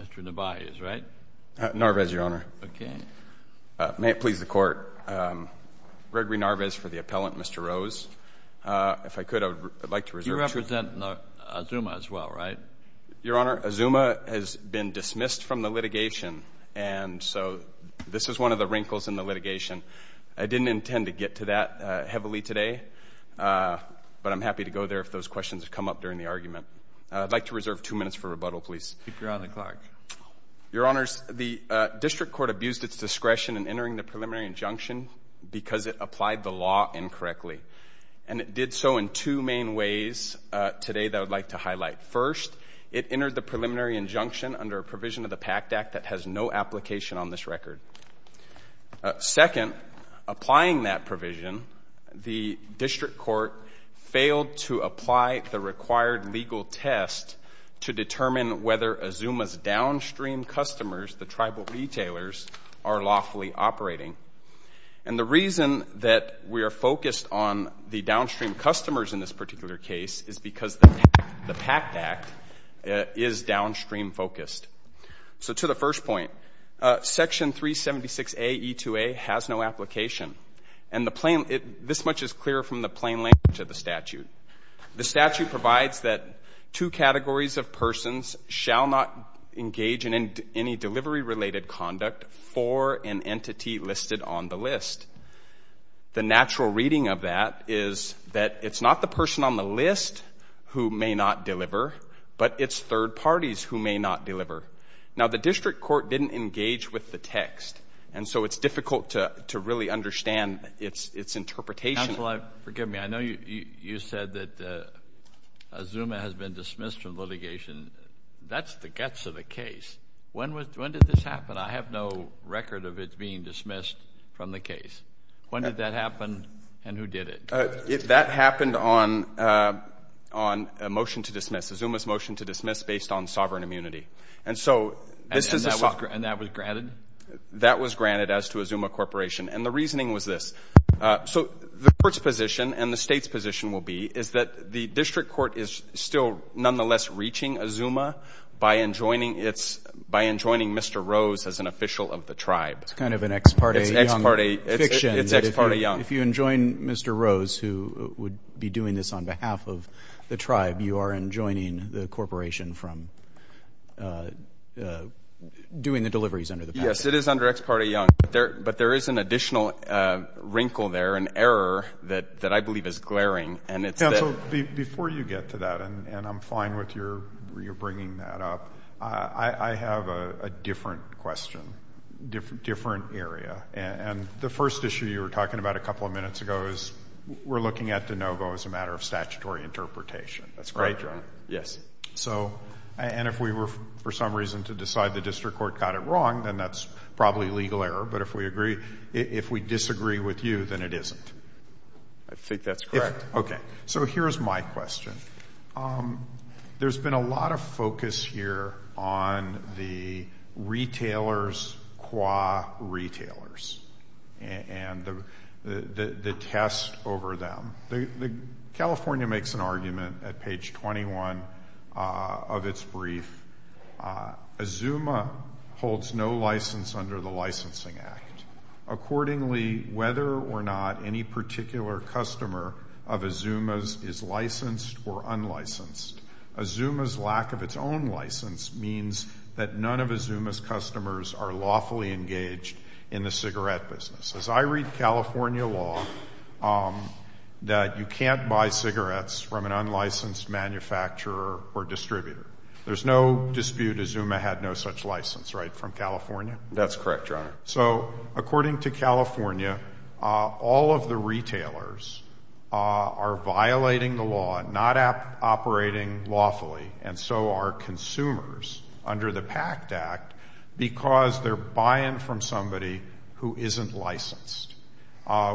Mr. Narvaez, right? Narvaez, Your Honor. Okay. May it please the Court, Gregory Narvaez for the appellant, Mr. Rose. If I could, I would like to reserve the truth. You represent Azuma as well, right? Your Honor, Azuma has been dismissed from the litigation, and so this is one of the wrinkles in the litigation. I didn't intend to get to that heavily today, but I'm happy to go there if those questions have come up during the argument. I'd like to reserve two minutes for rebuttal, please. Speak your honor to the clerk. Your Honors, the district court abused its discretion in entering the preliminary injunction because it applied the law incorrectly. And it did so in two main ways today that I would like to highlight. First, it entered the preliminary injunction under a provision of the PACT Act that has no application on this record. Second, applying that provision, the district court failed to apply the required legal test to determine whether Azuma's downstream customers, the tribal retailers, are lawfully operating. And the reason that we are focused on the downstream customers in this particular case is because the PACT Act is downstream focused. So to the first point, Section 376AE2A has no application. And this much is clear from the plain language of the statute. The statute provides that two categories of persons shall not engage in any delivery-related conduct for an entity listed on the list. The natural reading of that is that it's not the person on the list who may not deliver, but it's third parties who may not deliver. Now, the district court didn't engage with the text, and so it's difficult to really understand its interpretation. Counsel, forgive me. I know you said that Azuma has been dismissed from litigation. That's the guts of the case. When did this happen? I have no record of it being dismissed from the case. When did that happen and who did it? That happened on a motion to dismiss, Azuma's motion to dismiss based on sovereign immunity. And that was granted? That was granted as to Azuma Corporation. And the reasoning was this. So the court's position and the state's position will be is that the district court is still nonetheless reaching Azuma by enjoining Mr. Rose as an official of the tribe. It's kind of an ex parte young fiction. It's ex parte young. If you enjoin Mr. Rose, who would be doing this on behalf of the tribe, you are enjoining the corporation from doing the deliveries under the package. Yes, it is under ex parte young. But there is an additional wrinkle there, an error, that I believe is glaring. Counsel, before you get to that, and I'm fine with your bringing that up, I have a different question, different area. And the first issue you were talking about a couple of minutes ago is we're looking at de novo as a matter of statutory interpretation. That's correct. Yes. And if we were for some reason to decide the district court got it wrong, then that's probably legal error. But if we disagree with you, then it isn't. I think that's correct. Okay. So here's my question. There's been a lot of focus here on the retailers qua retailers and the test over them. California makes an argument at page 21 of its brief. Azuma holds no license under the Licensing Act. Accordingly, whether or not any particular customer of Azuma's is licensed or unlicensed, Azuma's lack of its own license means that none of Azuma's customers are lawfully engaged in the cigarette business. As I read California law, that you can't buy cigarettes from an unlicensed manufacturer or distributor. There's no dispute Azuma had no such license, right, from California? That's correct, Your Honor. So according to California, all of the retailers are violating the law, not operating lawfully, and so are consumers under the PACT Act because they're buying from somebody who isn't licensed,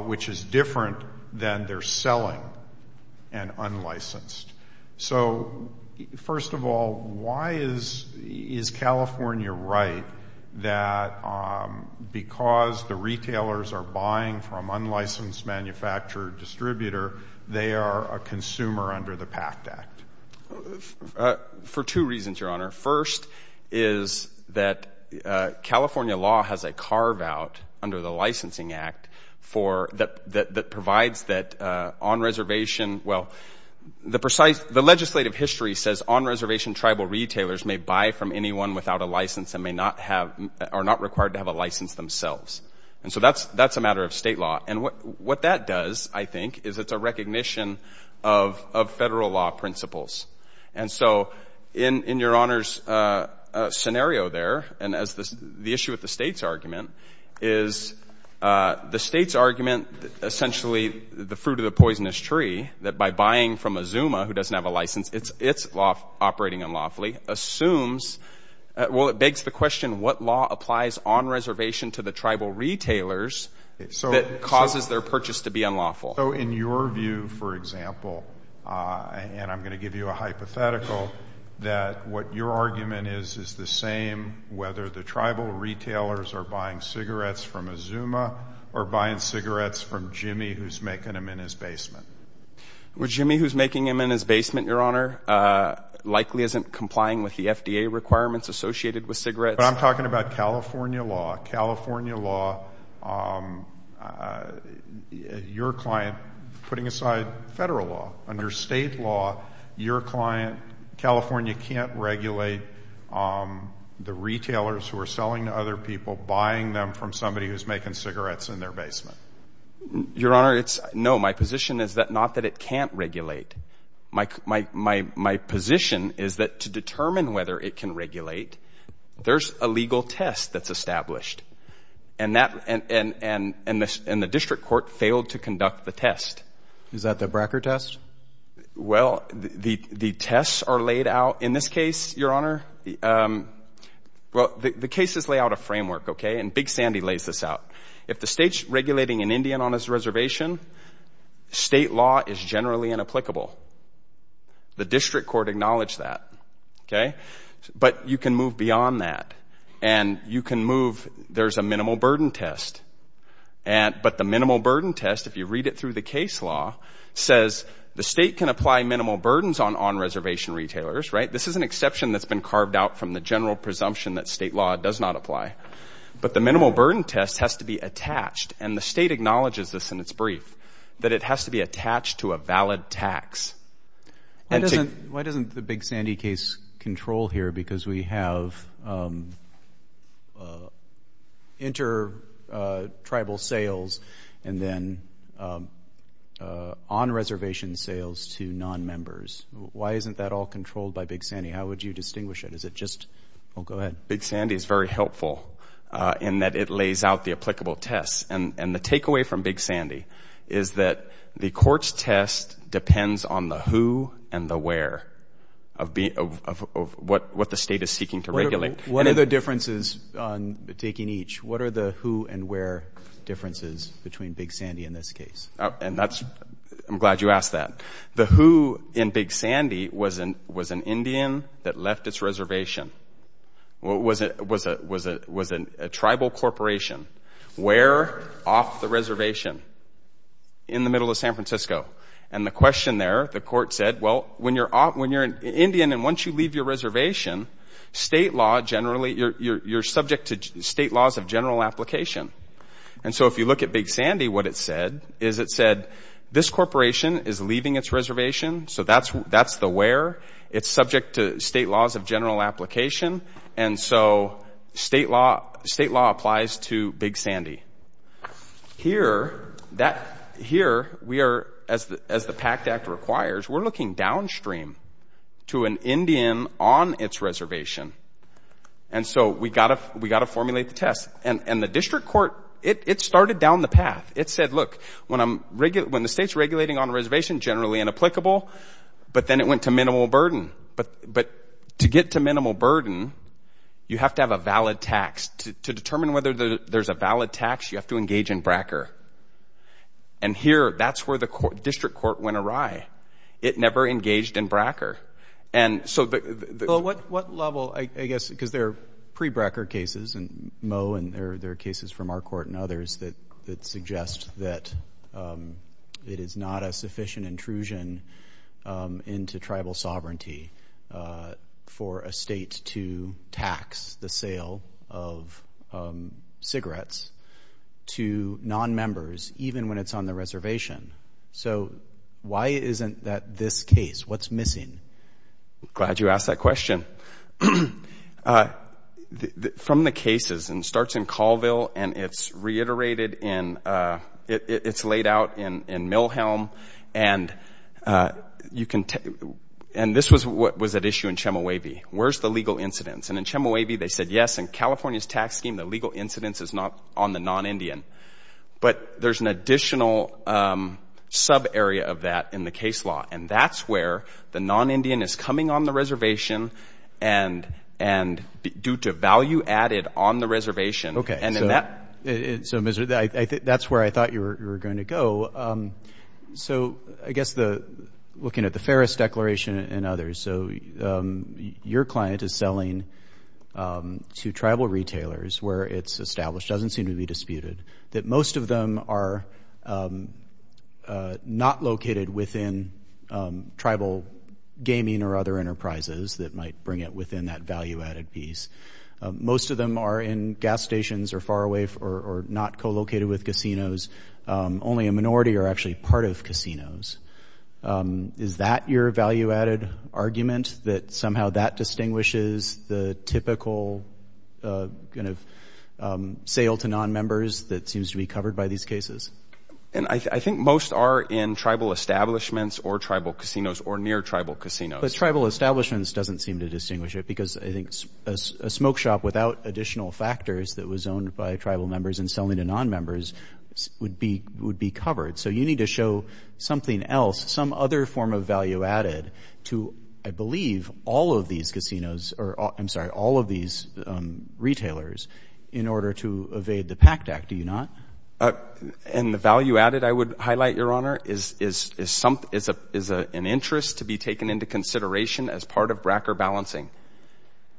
which is different than they're selling an unlicensed. So, first of all, why is California right that because the retailers are buying from unlicensed manufacturer or distributor, they are a consumer under the PACT Act? For two reasons, Your Honor. First is that California law has a carve-out under the Licensing Act that provides that on reservation, well, the legislative history says on-reservation tribal retailers may buy from anyone without a license and are not required to have a license themselves. And so that's a matter of state law. And what that does, I think, is it's a recognition of federal law principles. And so in Your Honor's scenario there, and as the issue with the state's argument, is the state's argument, essentially the fruit of the poisonous tree, that by buying from a Zuma who doesn't have a license, it's operating unlawfully, assumes, well, it begs the question, what law applies on reservation to the tribal retailers that causes their purchase to be unlawful? So in your view, for example, and I'm going to give you a hypothetical, that what your argument is is the same whether the tribal retailers are buying cigarettes from a Zuma or buying cigarettes from Jimmy who's making them in his basement. Well, Jimmy who's making them in his basement, Your Honor, likely isn't complying with the FDA requirements associated with cigarettes. But I'm talking about California law. California law, your client putting aside federal law. Under state law, your client, California, can't regulate the retailers who are selling to other people, buying them from somebody who's making cigarettes in their basement. Your Honor, no, my position is not that it can't regulate. My position is that to determine whether it can regulate, there's a legal test that's established. And the district court failed to conduct the test. Is that the Bracker test? Well, the tests are laid out in this case, Your Honor. Well, the cases lay out a framework, okay, and Big Sandy lays this out. If the state's regulating an Indian on his reservation, state law is generally inapplicable. The district court acknowledged that, okay? But you can move beyond that. And you can move, there's a minimal burden test. But the minimal burden test, if you read it through the case law, says the state can apply minimal burdens on on-reservation retailers, right? This is an exception that's been carved out from the general presumption that state law does not apply. But the minimal burden test has to be attached, and the state acknowledges this in its brief, that it has to be attached to a valid tax. Why doesn't the Big Sandy case control here? Because we have inter-tribal sales and then on-reservation sales to non-members. Why isn't that all controlled by Big Sandy? How would you distinguish it? Is it just, oh, go ahead. Big Sandy is very helpful in that it lays out the applicable tests. And the takeaway from Big Sandy is that the court's test depends on the who and the where of what the state is seeking to regulate. What are the differences on taking each? What are the who and where differences between Big Sandy and this case? And that's, I'm glad you asked that. The who in Big Sandy was an Indian that left its reservation, was a tribal corporation. Where off the reservation? In the middle of San Francisco. And the question there, the court said, well, when you're an Indian and once you leave your reservation, state law generally, you're subject to state laws of general application. And so if you look at Big Sandy, what it said is it said, this corporation is leaving its reservation, so that's the where. It's subject to state laws of general application. And so state law applies to Big Sandy. Here, we are, as the PACT Act requires, we're looking downstream to an Indian on its reservation. And so we got to formulate the test. And the district court, it started down the path. It said, look, when the state's regulating on a reservation, generally inapplicable, but then it went to minimal burden. But to get to minimal burden, you have to have a valid tax. To determine whether there's a valid tax, you have to engage in BRACOR. And here, that's where the district court went awry. It never engaged in BRACOR. And so the- Well, what level, I guess, because there are pre-BRACOR cases, and Mo, and there are cases from our court and others that suggest that it is not a sufficient intrusion into tribal sovereignty for a state to tax the sale of cigarettes to non-members, even when it's on the reservation. So why isn't that this case? What's missing? Glad you asked that question. From the cases, and it starts in Colville, and it's reiterated in- it's laid out in Mill Helm, and you can- and this was what was at issue in Chemehuevi. Where's the legal incidence? And in Chemehuevi, they said, yes, in California's tax scheme, the legal incidence is not on the non-Indian. But there's an additional sub-area of that in the case law. And that's where the non-Indian is coming on the reservation and due to value added on the reservation. And in that- So that's where I thought you were going to go. So I guess looking at the Ferris Declaration and others, so your client is selling to tribal retailers where it's established, doesn't seem to be disputed, that most of them are not located within tribal gaming or other enterprises that might bring it within that value added piece. Most of them are in gas stations or far away or not co-located with casinos. Only a minority are actually part of casinos. Is that your value added argument? That somehow that distinguishes the typical kind of sale to non-members that seems to be covered by these cases? And I think most are in tribal establishments or tribal casinos or near tribal casinos. But tribal establishments doesn't seem to distinguish it because I think a smoke shop without additional factors that was owned by tribal members and selling to non-members would be covered. So you need to show something else, some other form of value added to, I believe, all of these casinos- I'm sorry, all of these retailers in order to evade the PACT Act, do you not? And the value added, I would highlight, Your Honor, is an interest to be taken into consideration as part of bracker balancing.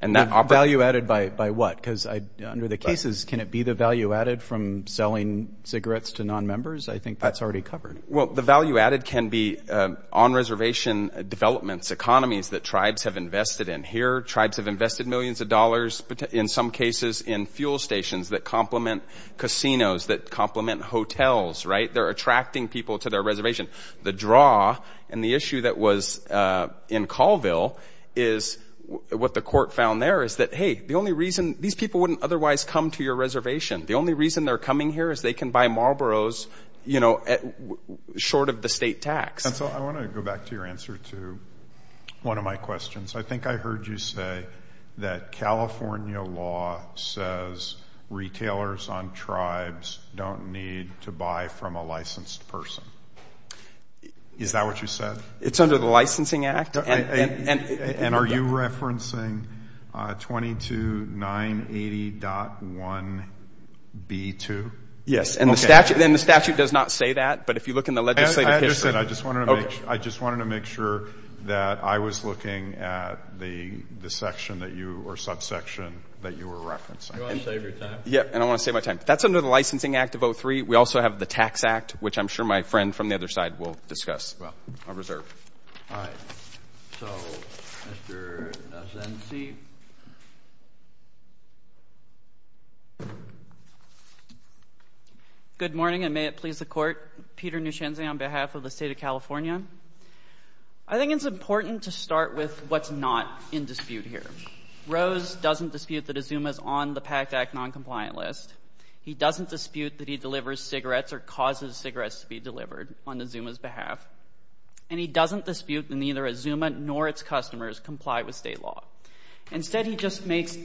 Value added by what? Because under the cases, can it be the value added from selling cigarettes to non-members? I think that's already covered. Well, the value added can be on-reservation developments, economies that tribes have invested in. Here, tribes have invested millions of dollars, in some cases, in fuel stations that complement casinos, that complement hotels, right? They're attracting people to their reservation. The draw and the issue that was in Colville is what the court found there is that, hey, the only reason these people wouldn't otherwise come to your reservation, the only reason they're coming here is they can buy Marlboros, you know, short of the state tax. And so I want to go back to your answer to one of my questions. I think I heard you say that California law says retailers on tribes don't need to buy from a licensed person. Is that what you said? It's under the Licensing Act. And are you referencing 22980.1b2? Yes. And the statute does not say that, but if you look in the legislative history. I understand. I just wanted to make sure that I was looking at the section that you or subsection that you were referencing. Do you want to save your time? Yes, and I want to save my time. That's under the Licensing Act of 03. We also have the Tax Act, which I'm sure my friend from the other side will discuss. Well, I reserve. All right. So Mr. Asensi. Good morning, and may it please the Court. Peter Nushenzie on behalf of the State of California. I think it's important to start with what's not in dispute here. Rose doesn't dispute that Azuma's on the PACT Act noncompliant list. He doesn't dispute that he delivers cigarettes or causes cigarettes to be delivered on Azuma's behalf. And he doesn't dispute that neither Azuma nor its customers comply with state law. Instead, he just makes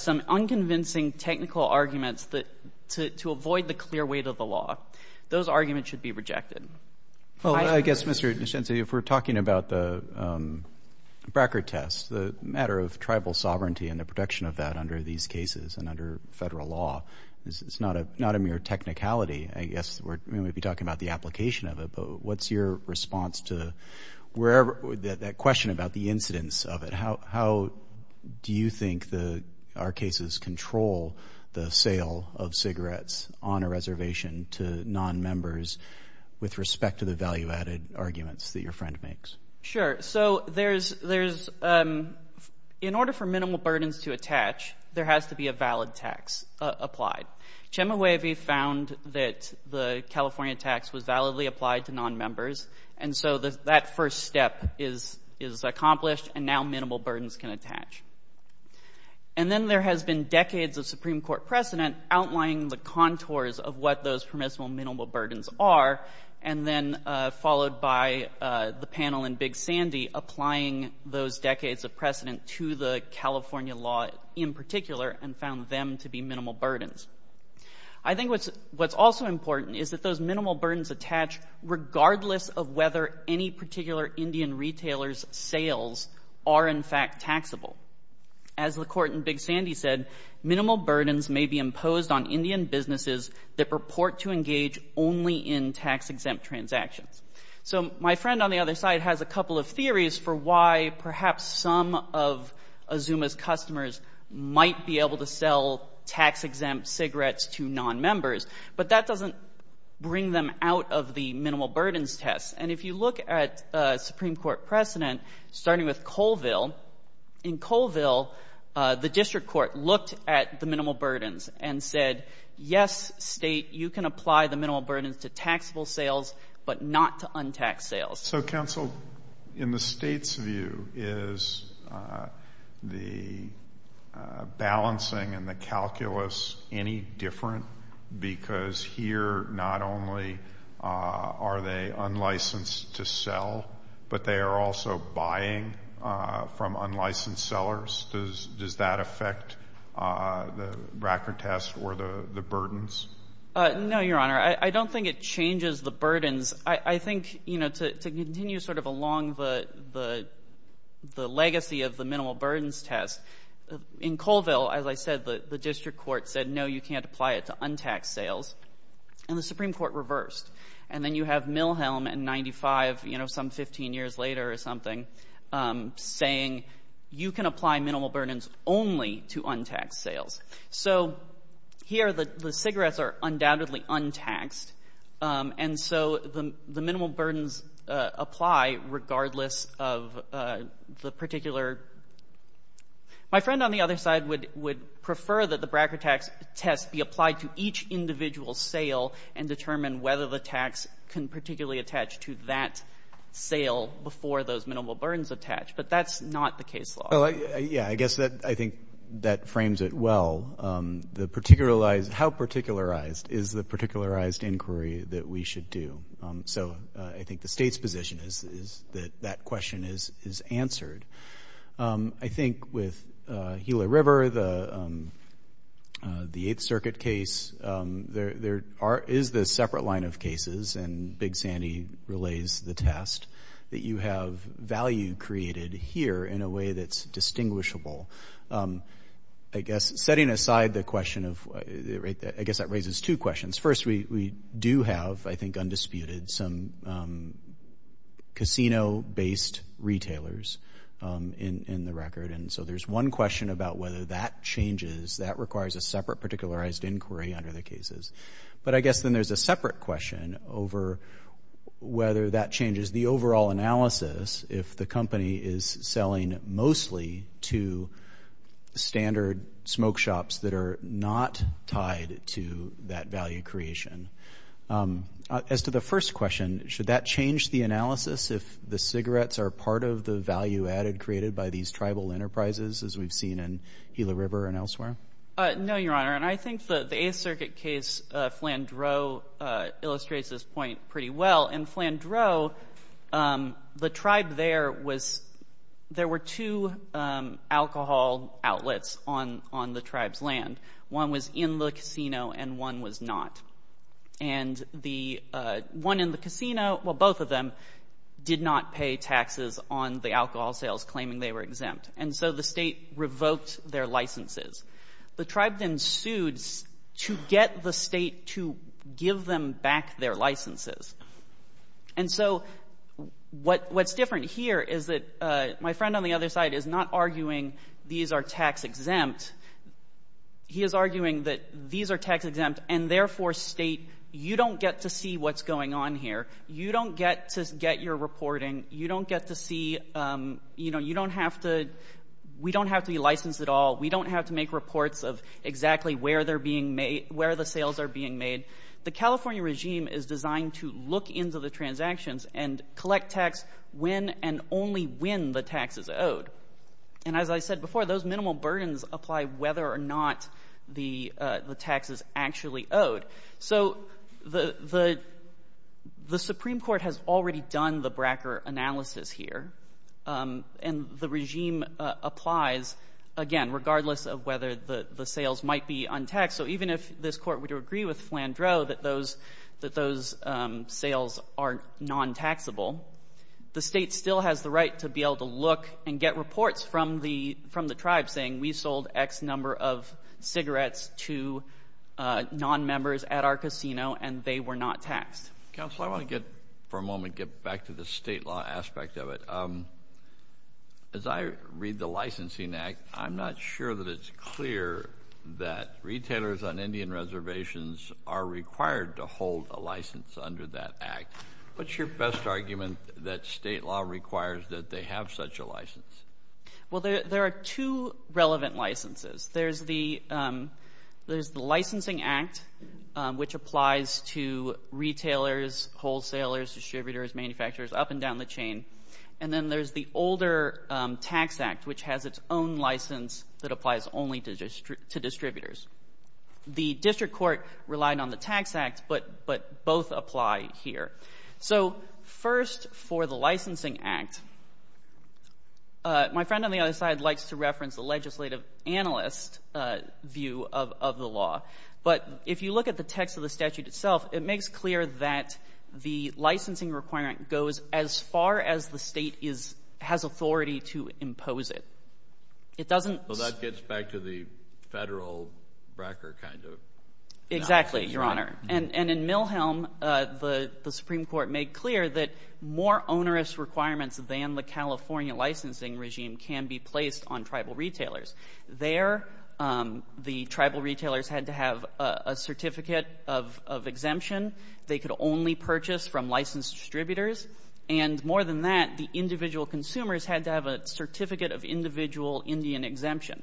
some unconvincing technical arguments to avoid the clear weight of the law. Those arguments should be rejected. Well, I guess, Mr. Nushenzie, if we're talking about the BRCA test, the matter of tribal sovereignty and the protection of that under these cases and under federal law, it's not a mere technicality, I guess. I mean, we'd be talking about the application of it. But what's your response to that question about the incidence of it? How do you think our cases control the sale of cigarettes on a reservation to nonmembers with respect to the value-added arguments that your friend makes? Sure. So in order for minimal burdens to attach, there has to be a valid tax applied. Chemehuevi found that the California tax was validly applied to nonmembers. And so that first step is accomplished, and now minimal burdens can attach. And then there has been decades of Supreme Court precedent outlining the contours of what those permissible minimal burdens are, and then followed by the panel in Big Sandy applying those decades of precedent to the California law in particular and found them to be minimal burdens. I think what's also important is that those minimal burdens attach regardless of whether any particular Indian retailer's sales are, in fact, taxable. As the court in Big Sandy said, minimal burdens may be imposed on Indian businesses that purport to engage only in tax-exempt transactions. So my friend on the other side has a couple of theories for why perhaps some of Azuma's customers might be able to sell tax-exempt cigarettes to nonmembers, but that doesn't bring them out of the minimal burdens test. And if you look at Supreme Court precedent, starting with Colville, in Colville the district court looked at the minimal burdens and said, yes, state, you can apply the minimal burdens to taxable sales, but not to untaxed sales. So, counsel, in the state's view, is the balancing and the calculus any different? Because here not only are they unlicensed to sell, but they are also buying from unlicensed sellers. Does that affect the record test or the burdens? No, Your Honor. I don't think it changes the burdens. I think, you know, to continue sort of along the legacy of the minimal burdens test, in Colville, as I said, the district court said, no, you can't apply it to untaxed sales, and the Supreme Court reversed. And then you have Milhelm in 95, you know, some 15 years later or something, saying you can apply minimal burdens only to untaxed sales. So here the cigarettes are undoubtedly untaxed, and so the minimal burdens apply regardless of the particular. My friend on the other side would prefer that the Bracker tax test be applied to each individual sale and determine whether the tax can particularly attach to that sale before those minimal burdens attach. But that's not the case law. Well, yeah, I guess I think that frames it well. How particularized is the particularized inquiry that we should do? So I think the State's position is that that question is answered. I think with Gila River, the Eighth Circuit case, there is this separate line of cases, and Big Sandy relays the test, that you have value created here in a way that's distinguishable. I guess setting aside the question of, I guess that raises two questions. First, we do have, I think, undisputed some casino-based retailers in the record, and so there's one question about whether that changes. That requires a separate particularized inquiry under the cases. But I guess then there's a separate question over whether that changes the overall analysis if the company is selling mostly to standard smoke shops that are not tied to that value creation. As to the first question, should that change the analysis if the cigarettes are part of the value added created by these tribal enterprises, as we've seen in Gila River and elsewhere? No, Your Honor, and I think the Eighth Circuit case, Flandreau, illustrates this point pretty well. In Flandreau, the tribe there was, there were two alcohol outlets on the tribe's land. One was in the casino and one was not. And the one in the casino, well, both of them did not pay taxes on the alcohol sales claiming they were exempt. And so the state revoked their licenses. The tribe then sued to get the state to give them back their licenses. And so what's different here is that my friend on the other side is not arguing these are tax-exempt. He is arguing that these are tax-exempt and, therefore, state, you don't get to see what's going on here. You don't get to get your reporting. You don't get to see, you know, you don't have to, we don't have to be licensed at all. We don't have to make reports of exactly where they're being made, where the sales are being made. The California regime is designed to look into the transactions and collect tax when and only when the tax is owed. And as I said before, those minimal burdens apply whether or not the tax is actually owed. So the Supreme Court has already done the Bracker analysis here. And the regime applies, again, regardless of whether the sales might be untaxed. So even if this court were to agree with Flandreau that those sales are non-taxable, the state still has the right to be able to look and get reports from the tribe saying, we sold X number of cigarettes to non-members at our casino, and they were not taxed. Counsel, I want to get for a moment, get back to the state law aspect of it. As I read the licensing act, I'm not sure that it's clear that retailers on Indian reservations are required to hold a license under that act. What's your best argument that state law requires that they have such a license? Well, there are two relevant licenses. There's the licensing act, which applies to retailers, wholesalers, distributors, manufacturers, up and down the chain. And then there's the older tax act, which has its own license that applies only to distributors. The district court relied on the tax act, but both apply here. So first, for the licensing act, my friend on the other side likes to reference the legislative analyst view of the law. But if you look at the text of the statute itself, it makes clear that the licensing requirement goes as far as the state has authority to impose it. It doesn't – Well, that gets back to the federal record kind of – Exactly, Your Honor. And in Milhelm, the Supreme Court made clear that more onerous requirements than the California licensing regime can be placed on tribal retailers. There, the tribal retailers had to have a certificate of exemption. They could only purchase from licensed distributors. And more than that, the individual consumers had to have a certificate of individual Indian exemption.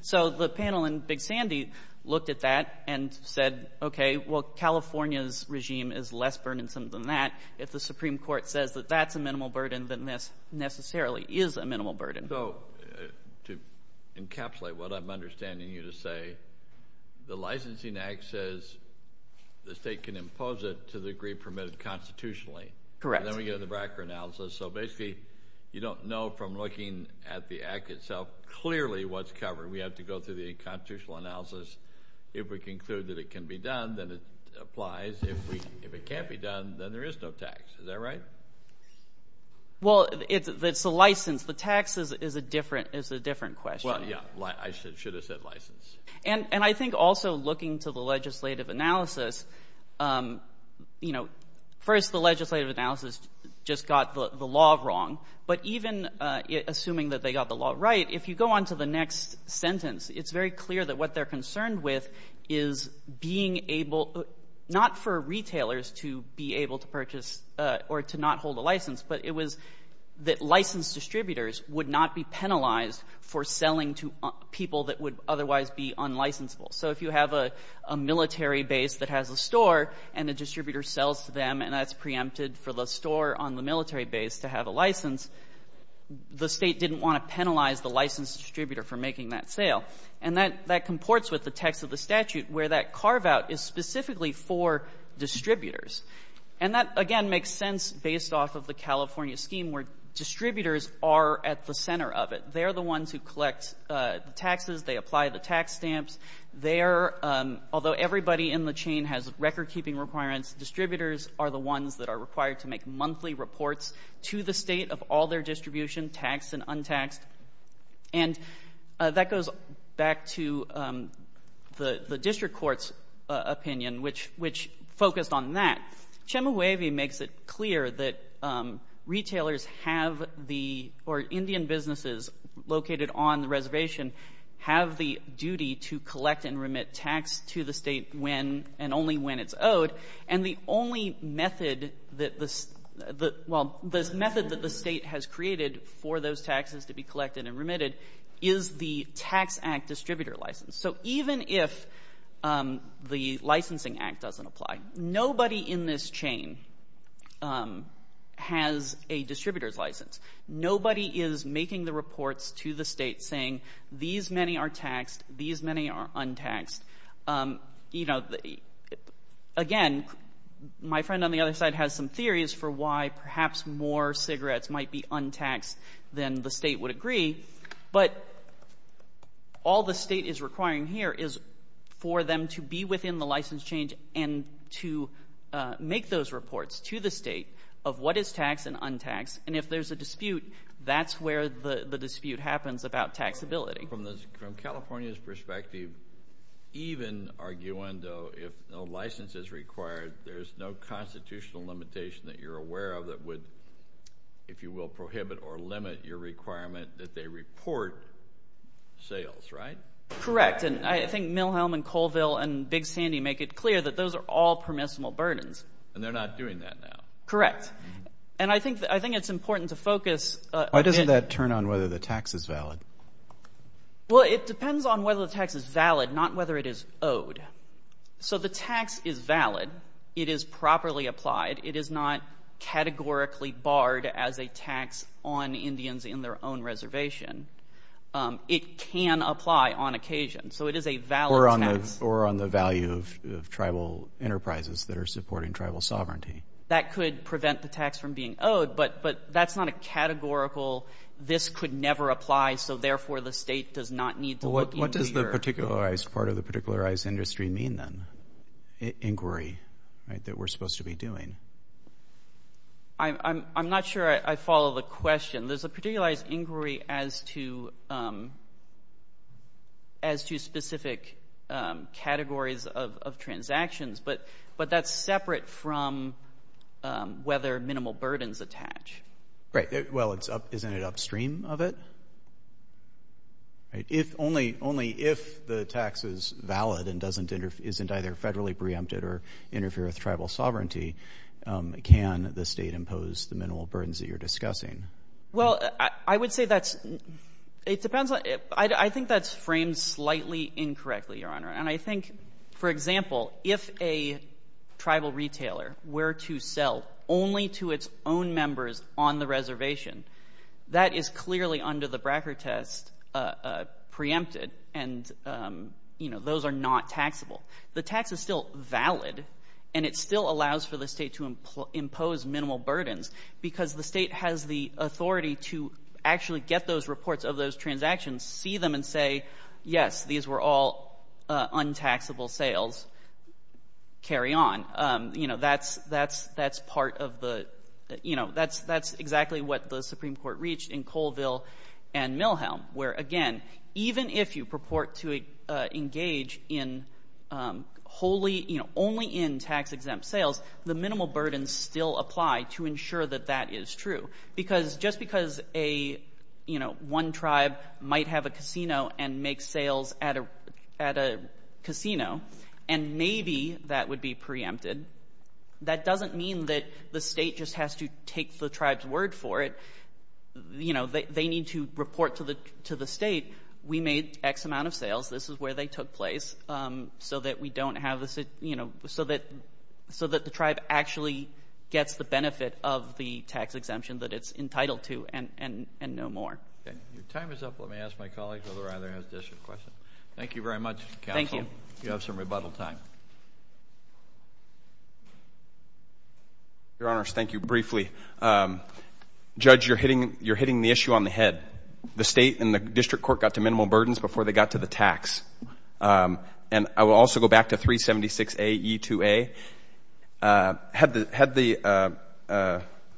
So the panel in Big Sandy looked at that and said, okay, well, California's regime is less burdensome than that. If the Supreme Court says that that's a minimal burden, then this necessarily is a minimal burden. So to encapsulate what I'm understanding you to say, the licensing act says the state can impose it to the degree permitted constitutionally. Correct. So basically you don't know from looking at the act itself clearly what's covered. We have to go through the constitutional analysis. If we conclude that it can be done, then it applies. If it can't be done, then there is no tax. Is that right? Well, it's the license. The tax is a different question. Well, yeah. I should have said license. And I think also looking to the legislative analysis, you know, first the legislative analysis just got the law wrong. But even assuming that they got the law right, if you go on to the next sentence, it's very clear that what they're concerned with is being able not for retailers to be able to purchase or to not hold a license, but it was that licensed distributors would not be penalized for selling to people that would otherwise be unlicensable. So if you have a military base that has a store and the distributor sells to them and that's preempted for the store on the military base to have a license, the state didn't want to penalize the licensed distributor for making that sale. And that comports with the text of the statute where that carve-out is specifically for distributors. And that, again, makes sense based off of the California scheme where distributors are at the center of it. They're the ones who collect the taxes. They apply the tax stamps. Although everybody in the chain has record-keeping requirements, distributors are the ones that are required to make monthly reports to the state of all their distribution, taxed and untaxed. And that goes back to the district court's opinion, which focused on that. Chemehuevi makes it clear that retailers have the, or Indian businesses located on the reservation, have the duty to collect and remit tax to the state when and only when it's owed. And the only method that the state has created for those taxes to be collected and remitted is the tax act distributor license. So even if the licensing act doesn't apply, nobody in this chain has a distributor's license. Nobody is making the reports to the state saying these many are taxed, these many are untaxed. You know, again, my friend on the other side has some theories for why perhaps more cigarettes might be untaxed than the state would agree. But all the state is requiring here is for them to be within the license change and to make those reports to the state of what is taxed and untaxed. And if there's a dispute, that's where the dispute happens about taxability. So from California's perspective, even arguendo, if no license is required, there's no constitutional limitation that you're aware of that would, if you will, prohibit or limit your requirement that they report sales, right? Correct. And I think Milhelm and Colville and Big Sandy make it clear that those are all permissible burdens. And they're not doing that now. Correct. And I think it's important to focus. Why doesn't that turn on whether the tax is valid? Well, it depends on whether the tax is valid, not whether it is owed. So the tax is valid. It is properly applied. It is not categorically barred as a tax on Indians in their own reservation. It can apply on occasion. So it is a valid tax. Or on the value of tribal enterprises that are supporting tribal sovereignty. That could prevent the tax from being owed. But that's not a categorical, this could never apply, so therefore the state does not need to look into your. Well, what does the particularized part of the particularized industry mean then? Inquiry, right, that we're supposed to be doing. I'm not sure I follow the question. There's a particularized inquiry as to specific categories of transactions. But that's separate from whether minimal burdens attach. Right. Well, isn't it upstream of it? If only if the tax is valid and isn't either federally preempted or interferes with tribal sovereignty, can the state impose the minimal burdens that you're discussing? Well, I would say that's, it depends on, I think that's framed slightly incorrectly, Your Honor. And I think, for example, if a tribal retailer were to sell only to its own members on the reservation, that is clearly under the Bracker test preempted, and, you know, those are not taxable. The tax is still valid, and it still allows for the state to impose minimal burdens because the state has the authority to actually get those reports of those transactions, see them, and say, yes, these were all untaxable sales, carry on. You know, that's part of the, you know, that's exactly what the Supreme Court reached in Colville and Milhelm, where, again, even if you purport to engage in wholly, you know, only in tax-exempt sales, the minimal burdens still apply to ensure that that is true. Because just because a, you know, one tribe might have a casino and make sales at a casino and maybe that would be preempted, that doesn't mean that the state just has to take the tribe's word for it. You know, they need to report to the state, we made X amount of sales, this is where they took place, so that we don't have this, you know, so that the tribe actually gets the benefit of the tax exemption that it's entitled to and no more. Okay. Your time is up. Let me ask my colleague whether or not he has a district question. Thank you very much, counsel. Thank you. You have some rebuttal time. Your Honors, thank you. Briefly, Judge, you're hitting the issue on the head. The state and the district court got to minimal burdens before they got to the tax. And I will also go back to 376AE2A. Had the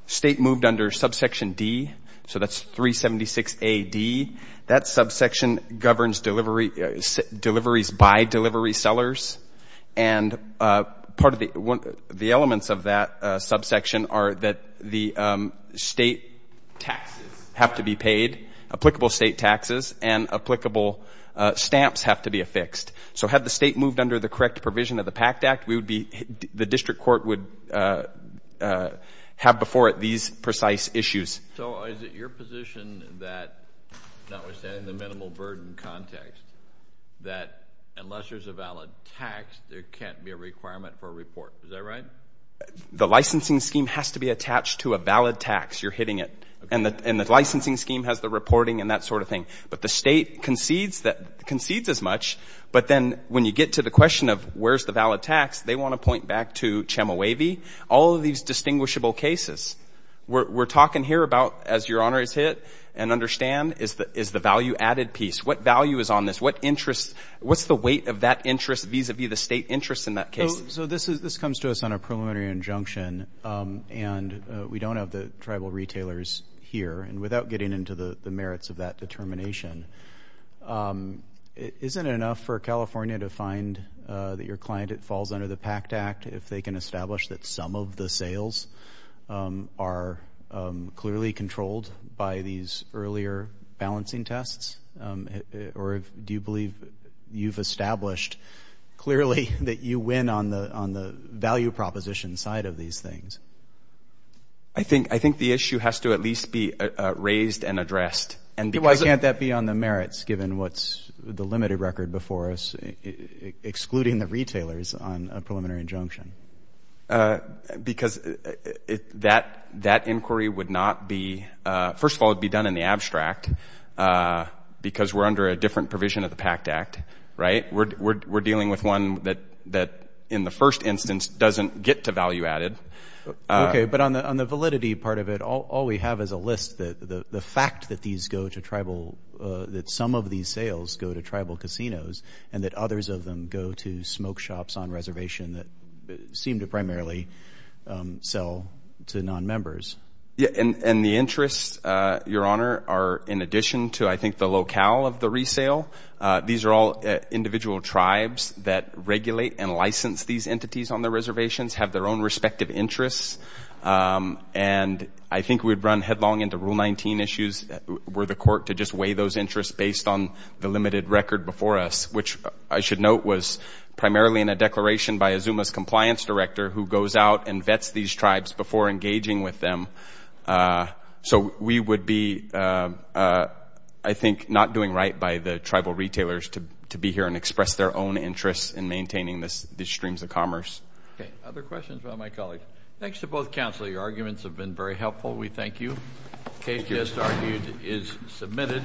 state moved under subsection D, so that's 376AD, that subsection governs deliveries by delivery sellers and part of the elements of that subsection are that the state taxes have to be paid, applicable state taxes and applicable stamps have to be affixed. So had the state moved under the correct provision of the PACT Act, the district court would have before it these precise issues. So is it your position that, notwithstanding the minimal burden context, that unless there's a valid tax, there can't be a requirement for a report. Is that right? The licensing scheme has to be attached to a valid tax. You're hitting it. And the licensing scheme has the reporting and that sort of thing. But the state concedes as much, but then when you get to the question of where's the valid tax, they want to point back to CHEMOAV, all of these distinguishable cases. We're talking here about, as Your Honors hit and understand, is the value-added piece. What value is on this? What's the weight of that interest vis-à-vis the state interest in that case? So this comes to us on a preliminary injunction, and we don't have the tribal retailers here. And without getting into the merits of that determination, isn't it enough for California to find that your client falls under the PACT Act if they can establish that some of the sales are clearly controlled by these earlier balancing tests? Or do you believe you've established clearly that you win on the value proposition side of these things? I think the issue has to at least be raised and addressed. Why can't that be on the merits, given what's the limited record before us, excluding the retailers on a preliminary injunction? Because that inquiry would not be – first of all, it would be done in the abstract, because we're under a different provision of the PACT Act, right? We're dealing with one that, in the first instance, doesn't get to value-added. Okay, but on the validity part of it, all we have is a list, the fact that these go to tribal – that some of these sales go to tribal casinos and that others of them go to smoke shops on reservation that seem to primarily sell to non-members. And the interests, Your Honor, are in addition to, I think, the locale of the resale. These are all individual tribes that regulate and license these entities on their reservations, have their own respective interests. And I think we'd run headlong into Rule 19 issues, were the court to just weigh those interests based on the limited record before us, which I should note was primarily in a declaration by a ZUMA's compliance director who goes out and vets these tribes before engaging with them. So we would be, I think, not doing right by the tribal retailers to be here and express their own interests in maintaining these streams of commerce. Okay, other questions about my colleague? Thanks to both counsel. Your arguments have been very helpful. We thank you. The case just argued is submitted.